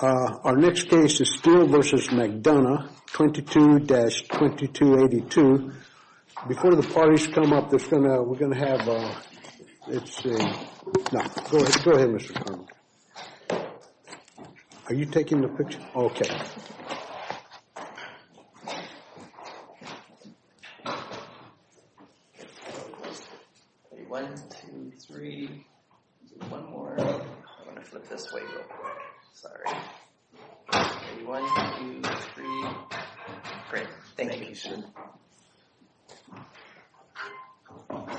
Our next case is Steele v. McDonough, 22-2282. Before the parties come up, we're going to have, let's see. Now, go ahead, Mr. Colonel. Are you taking the picture? Okay. One, two, three. One more. I'm going to flip this way real quick. Sorry. One, two, three. Great. Thank you. Thank you, sir. Mr.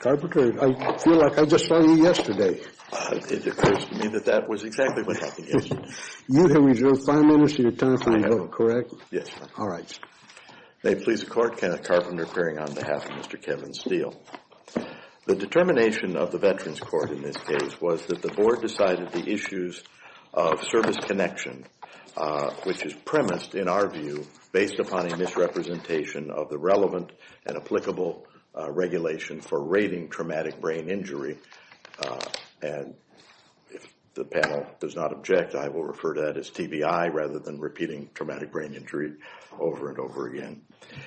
Carpenter, I feel like I just saw you yesterday. It occurs to me that that was exactly what happened yesterday. You have reserved five minutes of your time for a vote, correct? Yes, sir. All right. May it please the Court, Kenneth Carpenter appearing on behalf of Mr. Kevin Steele. The determination of the Veterans Court in this case was that the board decided the issues of service connection, which is premised, in our view, based upon a misrepresentation of the relevant and applicable regulation for rating traumatic brain injury. And if the panel does not object, I will refer to that as TBI rather than repeating traumatic brain injury over and over again.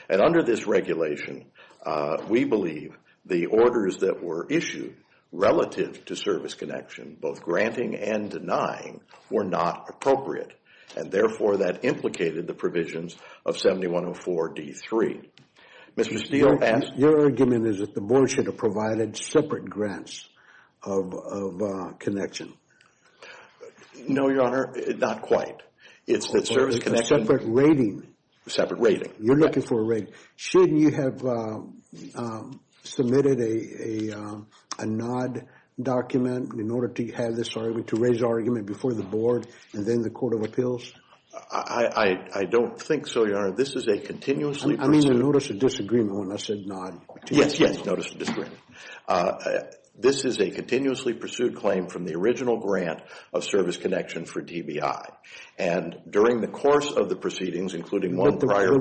And under this regulation, we believe the orders that were issued relative to service connection, both granting and denying, were not appropriate. And therefore, that implicated the provisions of 7104D3. Your argument is that the board should have provided separate grants of connection. No, Your Honor, not quite. It's the service connection. Separate rating. Separate rating. You're looking for a rating. Shouldn't you have submitted a NOD document in order to have this argument, to raise the argument before the board and then the Court of Appeals? I don't think so, Your Honor. This is a continuously- I mean the notice of disagreement when I said NOD. Yes, yes, notice of disagreement. This is a continuously pursued claim from the original grant of service connection for TBI. And during the course of the proceedings, including one prior- You were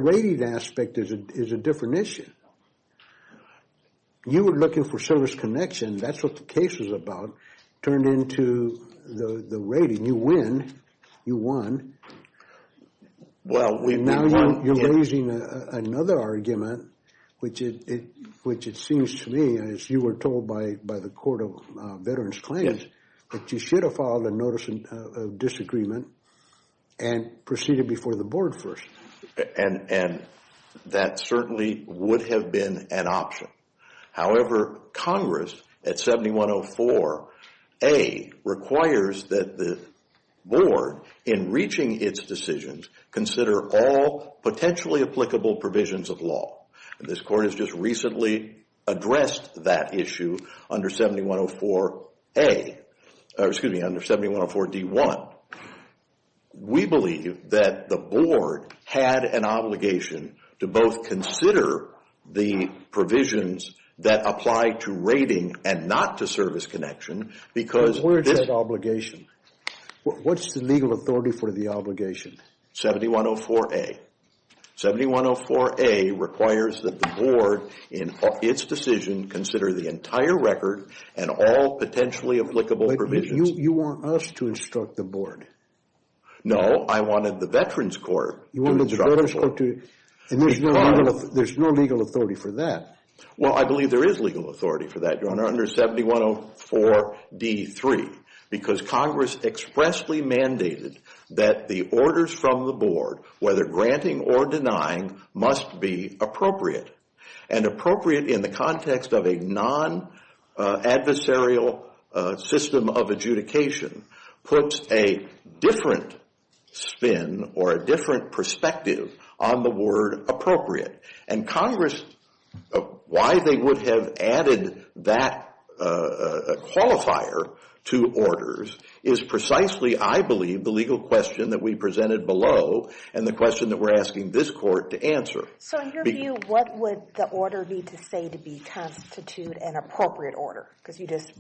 looking for service connection. That's what the case was about. Turned into the rating. You win. You won. Well, we won. And now you're raising another argument, which it seems to me, as you were told by the Court of Veterans Claims, that you should have filed a notice of disagreement and proceeded before the board first. And that certainly would have been an option. However, Congress, at 7104A, requires that the board, in reaching its decisions, consider all potentially applicable provisions of law. This Court has just recently addressed that issue under 7104A- excuse me, under 7104D1. We believe that the board had an obligation to both consider the provisions that apply to rating and not to service connection, because this- Where's that obligation? What's the legal authority for the obligation? 7104A. 7104A requires that the board, in its decision, consider the entire record and all potentially applicable provisions. You want us to instruct the board. No, I wanted the Veterans Court to instruct the board. And there's no legal authority for that. Well, I believe there is legal authority for that, Your Honor, under 7104D3, because Congress expressly mandated that the orders from the board, whether granting or denying, must be appropriate. And appropriate in the context of a non-adversarial system of adjudication puts a different spin or a different perspective on the word appropriate. And Congress, why they would have added that qualifier to orders is precisely, I believe, the legal question that we presented below and the question that we're asking this Court to answer. So in your view, what would the order need to say to constitute an appropriate order? Because you just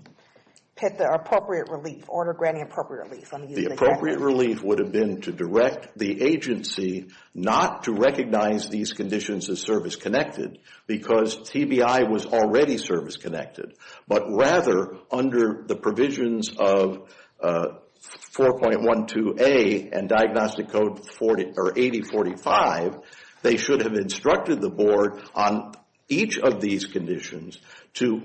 picked the appropriate relief, order granting appropriate relief. The appropriate relief would have been to direct the agency not to recognize these conditions as service connected, because TBI was already service connected. But rather, under the provisions of 4.12A and Diagnostic Code 8045, they should have instructed the board on each of these conditions to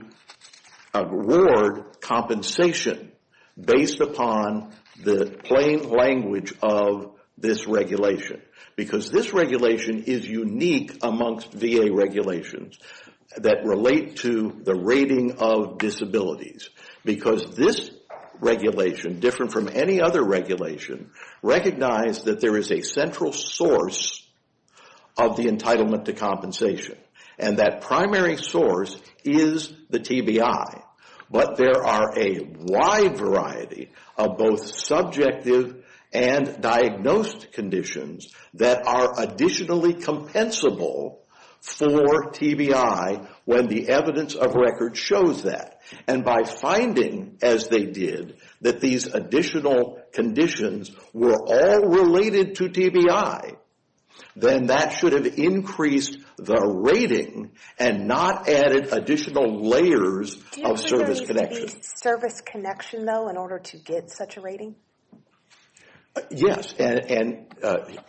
award compensation based upon the plain language of this regulation. Because this regulation is unique amongst VA regulations that relate to the rating of disabilities. Because this regulation, different from any other regulation, recognized that there is a central source of the entitlement to compensation. And that primary source is the TBI. But there are a wide variety of both subjective and diagnosed conditions that are additionally compensable for TBI when the evidence of record shows that. And by finding, as they did, that these additional conditions were all related to TBI, then that should have increased the rating and not added additional layers of service connection. Do you think there needs to be service connection, though, in order to get such a rating? Yes, and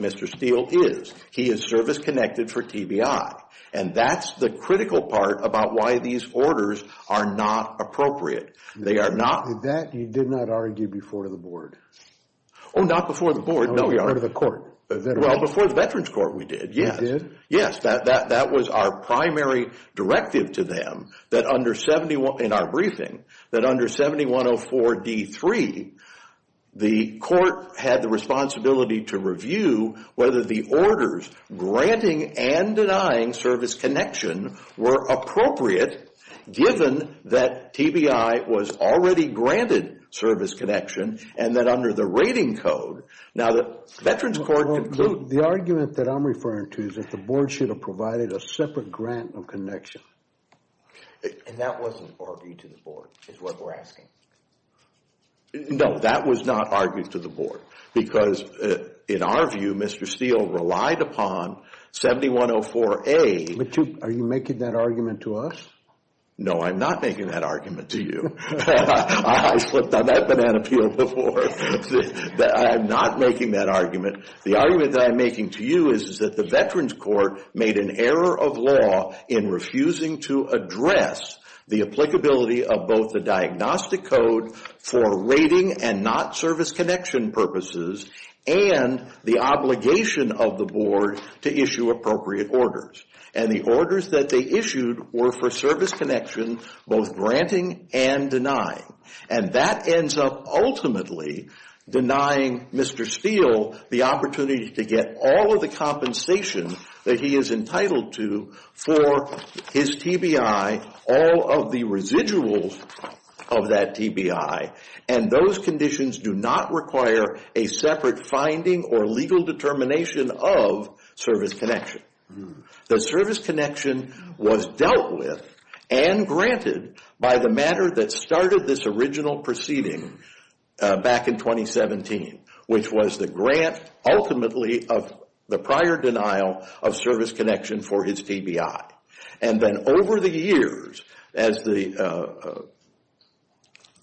Mr. Steele is. He is service connected for TBI. And that's the critical part about why these orders are not appropriate. They are not. That you did not argue before the board. Oh, not before the board. No, we are. Before the court. Well, before the Veterans Court, we did, yes. You did? Yes, that was our primary directive to them that under 7104D3, the court had the responsibility to review whether the orders granting and denying service connection were appropriate given that TBI was already granted service connection and that under the rating code. Now, the Veterans Court concluded... The argument that I'm referring to is that the board should have provided a separate grant of connection. And that wasn't argued to the board, is what we're asking. No, that was not argued to the board because in our view, Mr. Steele relied upon 7104A. But are you making that argument to us? No, I'm not making that argument to you. I slipped on that banana peel before. I'm not making that argument. The argument that I'm making to you is that the Veterans Court made an error of law in refusing to address the applicability of both the diagnostic code for rating and not service connection purposes and the obligation of the board to issue appropriate orders. And the orders that they issued were for service connection, both granting and denying. And that ends up ultimately denying Mr. Steele the opportunity to get all of the compensation that he is entitled to for his TBI, all of the residuals of that TBI. And those conditions do not require a separate finding or legal determination of service connection. The service connection was dealt with and granted by the matter that started this original proceeding back in 2017, which was the grant ultimately of the prior denial of service connection for his TBI. And then over the years, as the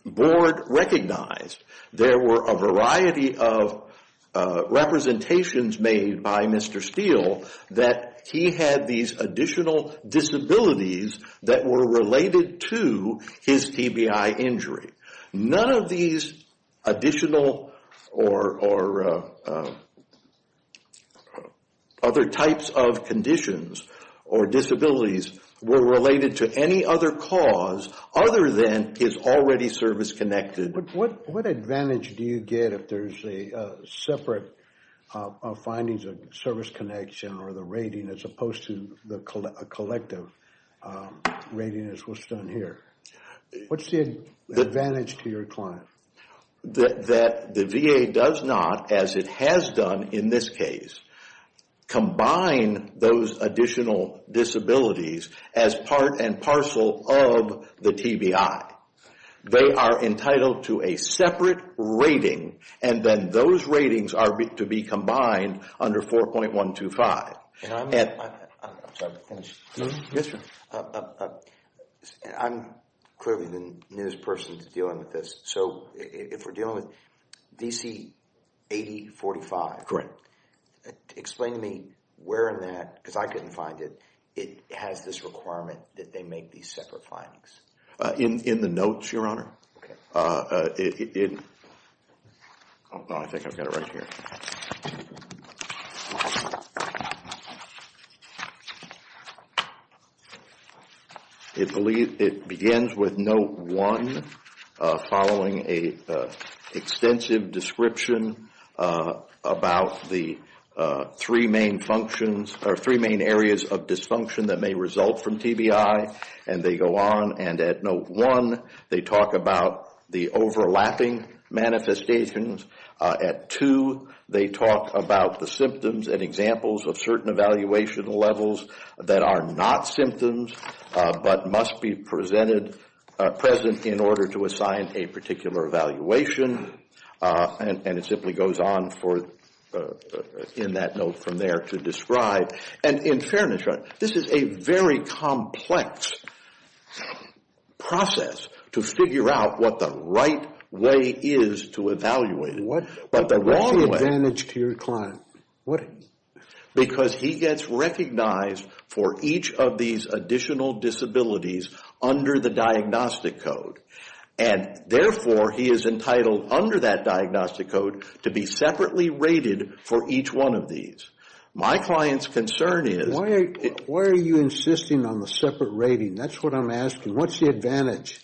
board recognized, there were a variety of representations made by Mr. Steele that he had these additional disabilities that were related to his TBI injury. None of these additional or other types of conditions or disabilities were related to any other cause other than his already service connected. What advantage do you get if there's a separate findings of service connection or the rating as opposed to a collective rating as was done here? What's the advantage to your client? That the VA does not, as it has done in this case, combine those additional disabilities as part and parcel of the TBI. They are entitled to a separate rating and then those ratings are to be combined under 4.125. I'm sorry to finish. Yes, sir. I'm clearly the newest person to dealing with this. So if we're dealing with DC 8045. Correct. Explain to me where in that, because I couldn't find it, it has this requirement that they make these separate findings. In the notes, Your Honor. Okay. I think I've got it right here. It begins with note one following an extensive description about the three main functions or three main areas of dysfunction that may result from TBI. And they go on and at note one, they talk about the overlapping manifestations. At two, they talk about the symptoms and examples of certain evaluation levels that are not symptoms but must be present in order to assign a particular evaluation. And it simply goes on in that note from there to describe. And in fairness, Your Honor, this is a very complex process to figure out what the right way is to evaluate. What's the wrong advantage to your client? Because he gets recognized for each of these additional disabilities under the diagnostic code. And therefore, he is entitled under that diagnostic code to be separately rated for each one of these. My client's concern is. Why are you insisting on the separate rating? That's what I'm asking. What's the advantage?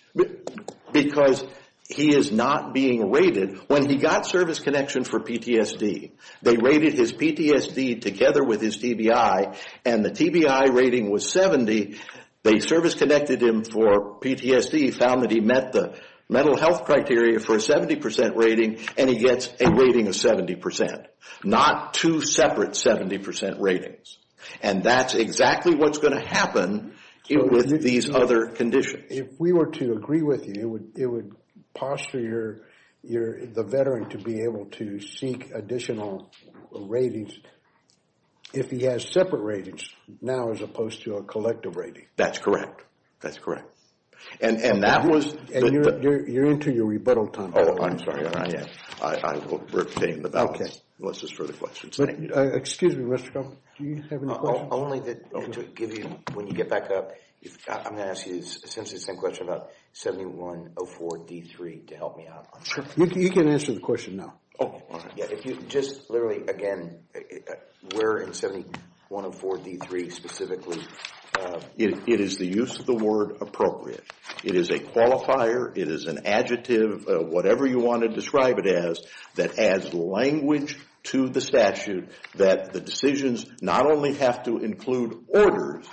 Because he is not being rated. When he got service connection for PTSD, they rated his PTSD together with his TBI. And the TBI rating was 70. They service connected him for PTSD, found that he met the mental health criteria for a 70% rating. And he gets a rating of 70%. Not two separate 70% ratings. And that's exactly what's going to happen with these other conditions. If we were to agree with you, it would posture the veteran to be able to seek additional ratings if he has separate ratings now as opposed to a collective rating. That's correct. That's correct. And that was. And you're into your rebuttal time. Oh, I'm sorry, Your Honor. I will retain the balance. Okay. Unless there's further questions. Excuse me, Mr. Crump. Do you have any questions? Only that when you get back up, I'm going to ask you essentially the same question about 7104D3 to help me out. You can answer the question now. Oh, all right. Just literally again, where in 7104D3 specifically. It is the use of the word appropriate. It is a qualifier. It is an adjective, whatever you want to describe it as, that adds language to the statute that the decisions not only have to include orders,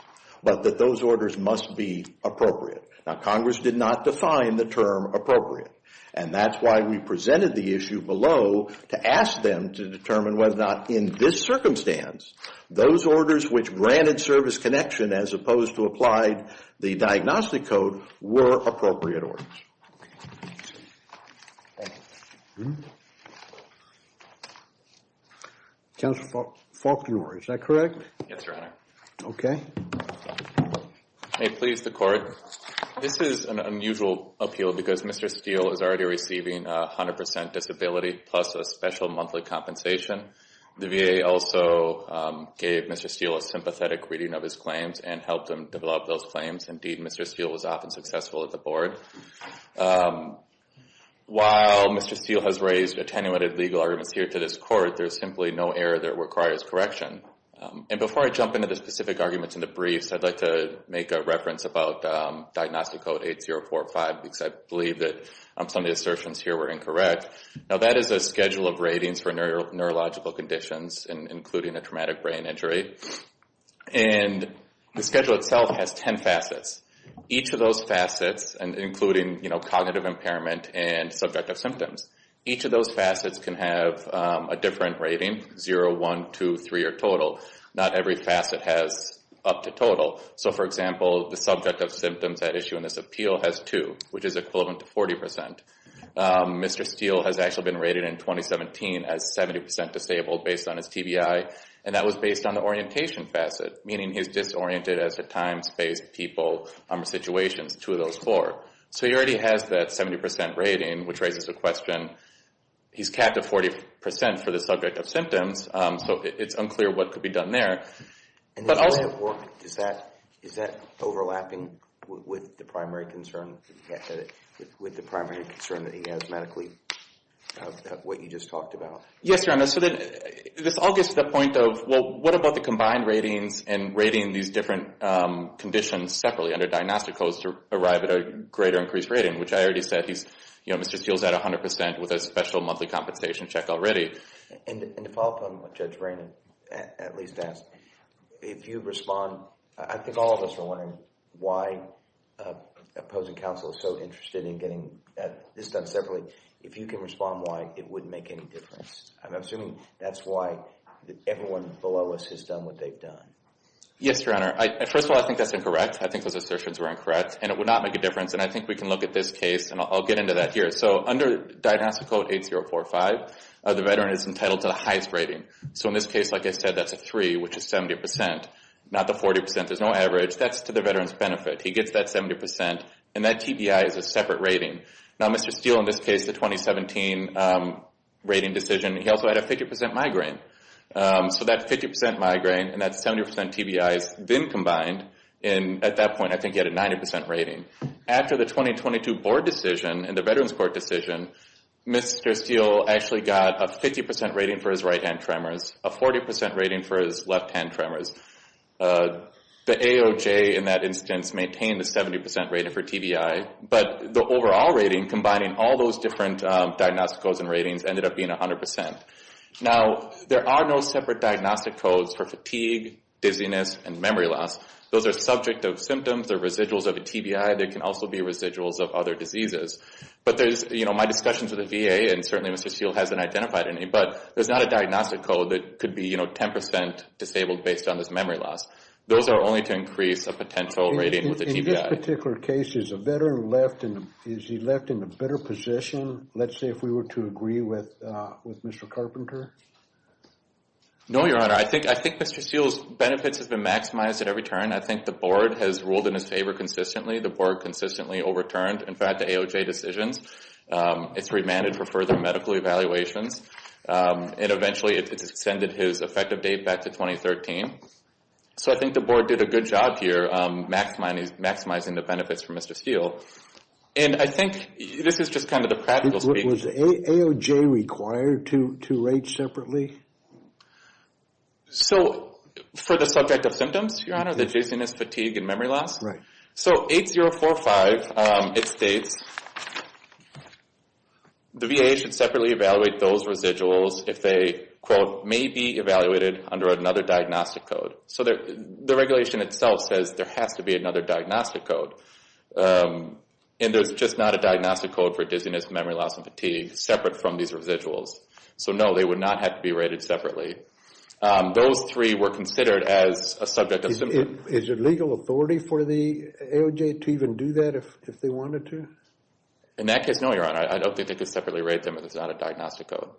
but that those orders must be appropriate. Now, Congress did not define the term appropriate. And that's why we presented the issue below to ask them to determine whether or not in this circumstance, those orders which granted service connection as opposed to applied the diagnostic code were appropriate orders. Counselor Faulkner, is that correct? Yes, Your Honor. Okay. May it please the Court. This is an unusual appeal because Mr. Steele is already receiving 100% disability plus a special monthly compensation. The VA also gave Mr. Steele a sympathetic reading of his claims and helped him develop those claims. Indeed, Mr. Steele was often successful at the Board. While Mr. Steele has raised attenuated legal arguments here to this Court, there's simply no error that requires correction. And before I jump into the specific arguments in the briefs, I'd like to make a reference about diagnostic code 8045 because I believe that some of the assertions here were incorrect. Now, that is a schedule of ratings for neurological conditions, including a traumatic brain injury. And the schedule itself has 10 facets. Each of those facets, including, you know, cognitive impairment and subjective symptoms, each of those facets can have a different rating, 0, 1, 2, 3, or total. Not every facet has up to total. So, for example, the subjective symptoms at issue in this appeal has 2, which is equivalent to 40%. Mr. Steele has actually been rated in 2017 as 70% disabled based on his TBI, and that was based on the orientation facet, meaning he's disoriented as to time, space, people, situations, two of those four. So he already has that 70% rating, which raises the question, he's capped at 40% for the subject of symptoms, so it's unclear what could be done there. And the way it worked, is that overlapping with the primary concern that he has medically of what you just talked about? Yes, Your Honor, so this all gets to the point of, well, what about the combined ratings and rating these different conditions separately under diagnostic codes to arrive at a greater increased rating, which I already said he's, you know, Mr. Steele's at 100% with a special monthly compensation check already. And to follow up on what Judge Brannon at least asked, if you respond, I think all of us are wondering why opposing counsel is so interested in getting this done separately. If you can respond why, it wouldn't make any difference. I'm assuming that's why everyone below us has done what they've done. Yes, Your Honor. First of all, I think that's incorrect. I think those assertions were incorrect, and it would not make a difference, and I think we can look at this case, and I'll get into that here. So under diagnostic code 8045, the veteran is entitled to the highest rating. So in this case, like I said, that's a 3, which is 70%, not the 40%. There's no average. That's to the veteran's benefit. He gets that 70%, and that TBI is a separate rating. Now, Mr. Steele, in this case, the 2017 rating decision, he also had a 50% migraine. So that 50% migraine and that 70% TBI is then combined, and at that point, I think he had a 90% rating. After the 2022 board decision and the Veterans Court decision, Mr. Steele actually got a 50% rating for his right-hand tremors, a 40% rating for his left-hand tremors. The AOJ in that instance maintained a 70% rating for TBI, but the overall rating combining all those different diagnostic codes and ratings ended up being 100%. Now, there are no separate diagnostic codes for fatigue, dizziness, and memory loss. Those are subject of symptoms. They're residuals of a TBI. They can also be residuals of other diseases. But my discussions with the VA, and certainly Mr. Steele hasn't identified any, but there's not a diagnostic code that could be 10% disabled based on this memory loss. Those are only to increase a potential rating with a TBI. In this particular case, is he left in a better position, let's say, if we were to agree with Mr. Carpenter? No, Your Honor. I think Mr. Steele's benefits have been maximized at every turn. I think the board has ruled in his favor consistently. The board consistently overturned, in fact, the AOJ decisions. It's remanded for further medical evaluations, and eventually it's extended his effective date back to 2013. So I think the board did a good job here maximizing the benefits for Mr. Steele. And I think this is just kind of the practical speak. Was the AOJ required to rate separately? So for the subject of symptoms, Your Honor, the dizziness, fatigue, and memory loss? Right. So 8045, it states the VA should separately evaluate those residuals if they, quote, may be evaluated under another diagnostic code. So the regulation itself says there has to be another diagnostic code. And there's just not a diagnostic code for dizziness, memory loss, and fatigue separate from these residuals. So no, they would not have to be rated separately. Those three were considered as a subject of symptoms. Is it legal authority for the AOJ to even do that if they wanted to? In that case, no, Your Honor. I don't think they could separately rate them if it's not a diagnostic code.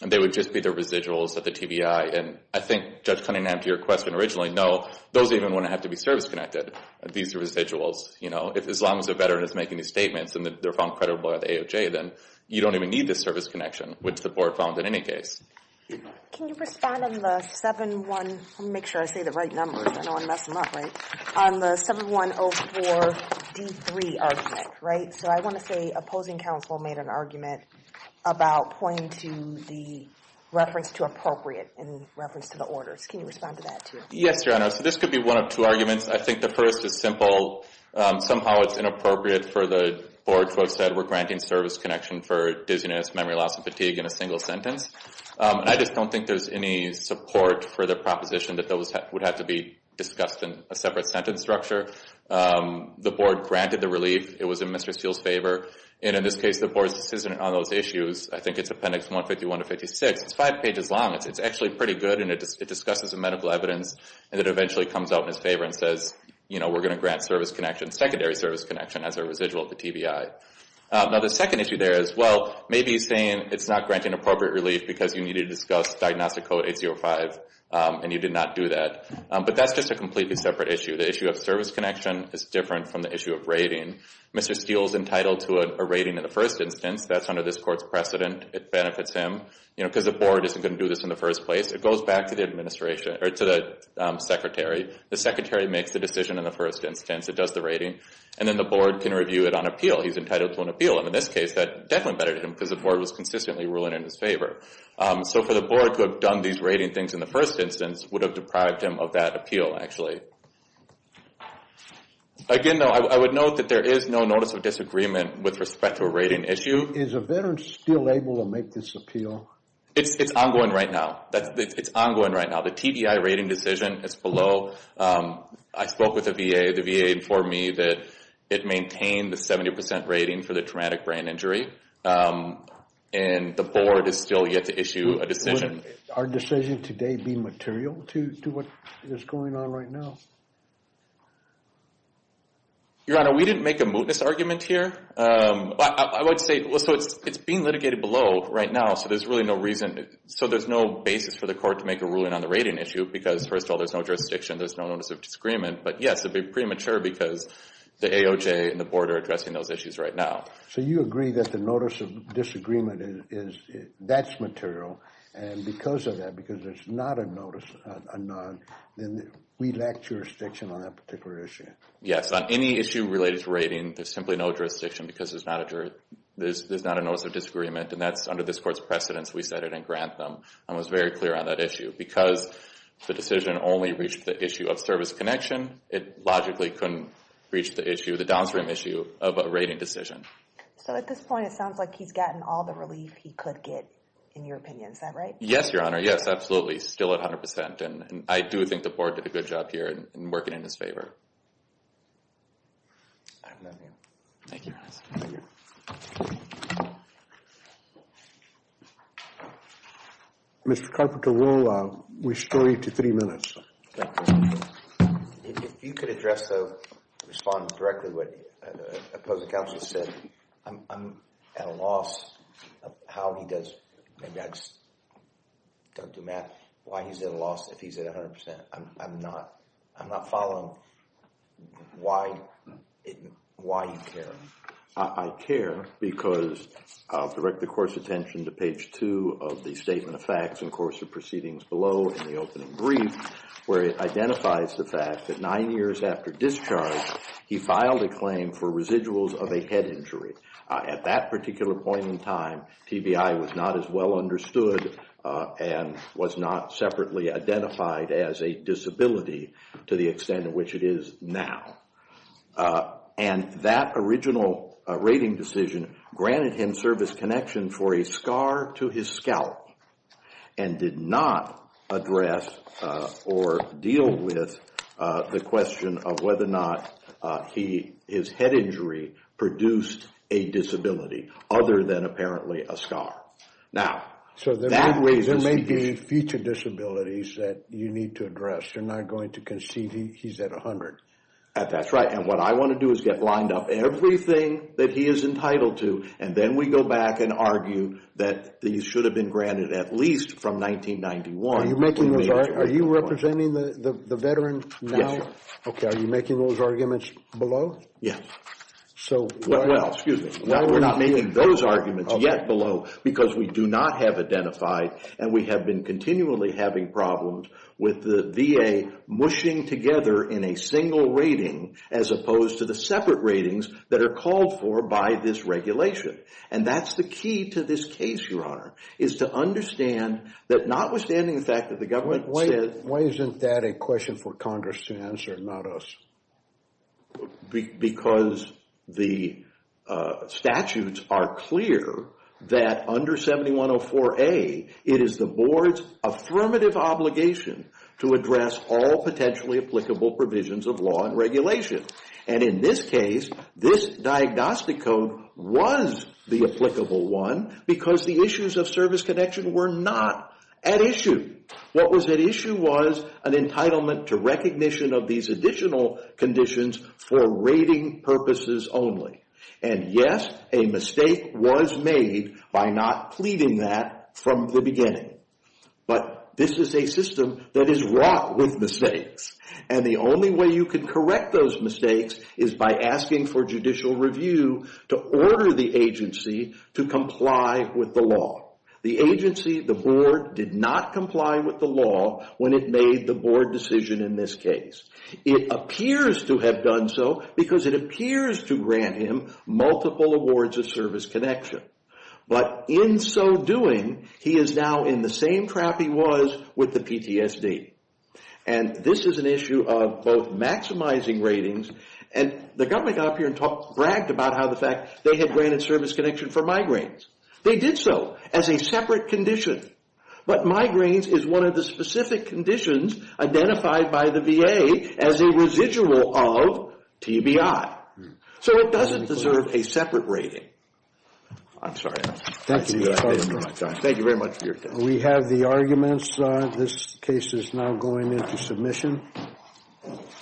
They would just be the residuals of the TBI. And I think, Judge Cunningham, to your question originally, no, those even wouldn't have to be service-connected. These are residuals. You know, as long as a veteran is making these statements and they're found credible by the AOJ, then you don't even need this service connection, which the board found in any case. Can you respond on the 7104D3 argument? So I want to say opposing counsel made an argument about pointing to the reference to appropriate in reference to the orders. Can you respond to that, too? Yes, Your Honor. So this could be one of two arguments. I think the first is simple. Somehow it's inappropriate for the board to have said we're granting service connection for dizziness, memory loss, and fatigue in a single sentence. And I just don't think there's any support for the proposition that those would have to be discussed in a separate sentence structure. The board granted the relief. It was in Mr. Steele's favor. And in this case, the board's decision on those issues, I think it's Appendix 151 to 156. It's five pages long. It's actually pretty good, and it discusses the medical evidence, and it eventually comes out in his favor and says, you know, we're going to grant service connection, secondary service connection as a residual of the TBI. Now the second issue there is, well, maybe he's saying it's not granting appropriate relief because you need to discuss Diagnostic Code 805, and you did not do that. But that's just a completely separate issue. The issue of service connection is different from the issue of rating. Mr. Steele's entitled to a rating in the first instance. That's under this court's precedent. It benefits him because the board isn't going to do this in the first place. It goes back to the administration or to the secretary. The secretary makes the decision in the first instance. It does the rating. And then the board can review it on appeal. He's entitled to an appeal. And in this case, that definitely benefited him because the board was consistently ruling in his favor. So for the board to have done these rating things in the first instance would have deprived him of that appeal, actually. Again, though, I would note that there is no notice of disagreement with respect to a rating issue. Is a veteran still able to make this appeal? It's ongoing right now. The TBI rating decision is below. I spoke with the VA. The VA informed me that it maintained the 70% rating for the traumatic brain injury. And the board is still yet to issue a decision. Would our decision today be material to what is going on right now? Your Honor, we didn't make a mootness argument here. I would say it's being litigated below right now. So there's no basis for the court to make a ruling on the rating issue because, first of all, there's no jurisdiction. There's no notice of disagreement. But, yes, it would be premature because the AOJ and the board are addressing those issues right now. So you agree that the notice of disagreement, that's material. And because of that, because there's not a notice, a nod, then we lack jurisdiction on that particular issue. Yes. On any issue related to rating, there's simply no jurisdiction because there's not a notice of disagreement. And that's under this court's precedence we set it and grant them. I was very clear on that issue. Because the decision only reached the issue of service connection, it logically couldn't reach the issue, the downstream issue, of a rating decision. So at this point it sounds like he's gotten all the relief he could get, in your opinion. Is that right? Yes, Your Honor. Yes, absolutely. Still at 100%. And I do think the board did a good job here in working in his favor. I have nothing else. Thank you, Your Honor. Thank you. Mr. Carpenter, we'll restore you to three minutes. Thank you. If you could address, respond directly to what the opposing counsel said, I'm at a loss of how he does, maybe I just don't do math, why he's at a loss if he's at 100%. I'm not following why you care. I care because I'll direct the court's attention to page two of the Statement of Facts and Courts of Proceedings below in the opening brief, where it identifies the fact that nine years after discharge, he filed a claim for residuals of a head injury. At that particular point in time, and was not separately identified as a disability to the extent of which it is now. And that original rating decision granted him service connection for a scar to his scalp and did not address or deal with the question of whether or not his head injury produced a disability, other than apparently a scar. So there may be future disabilities that you need to address. You're not going to concede he's at 100%. That's right. And what I want to do is get lined up everything that he is entitled to, and then we go back and argue that these should have been granted at least from 1991. Are you representing the veteran now? Yes, sir. Okay. Are you making those arguments below? Yes. Well, excuse me. We're not making those arguments yet below, because we do not have identified and we have been continually having problems with the VA mushing together in a single rating, as opposed to the separate ratings that are called for by this regulation. And that's the key to this case, Your Honor, is to understand that notwithstanding the fact that the government said. Why isn't that a question for Congress to answer and not us? Because the statutes are clear that under 7104A, it is the board's affirmative obligation to address all potentially applicable provisions of law and regulation. And in this case, this diagnostic code was the applicable one, because the issues of service connection were not at issue. What was at issue was an entitlement to recognition of these additional conditions for rating purposes only. And, yes, a mistake was made by not pleading that from the beginning. But this is a system that is wrought with mistakes. And the only way you can correct those mistakes is by asking for judicial review to order the agency to comply with the law. The agency, the board, did not comply with the law when it made the board decision in this case. It appears to have done so because it appears to grant him multiple awards of service connection. But in so doing, he is now in the same trap he was with the PTSD. And this is an issue of both maximizing ratings, and the government got up here and bragged about how the fact they had granted service connection for migraines. They did so as a separate condition. But migraines is one of the specific conditions identified by the VA as a residual of TBI. So it doesn't deserve a separate rating. I'm sorry. Thank you. Thank you very much for your time. We have the arguments. This case is now going into submission.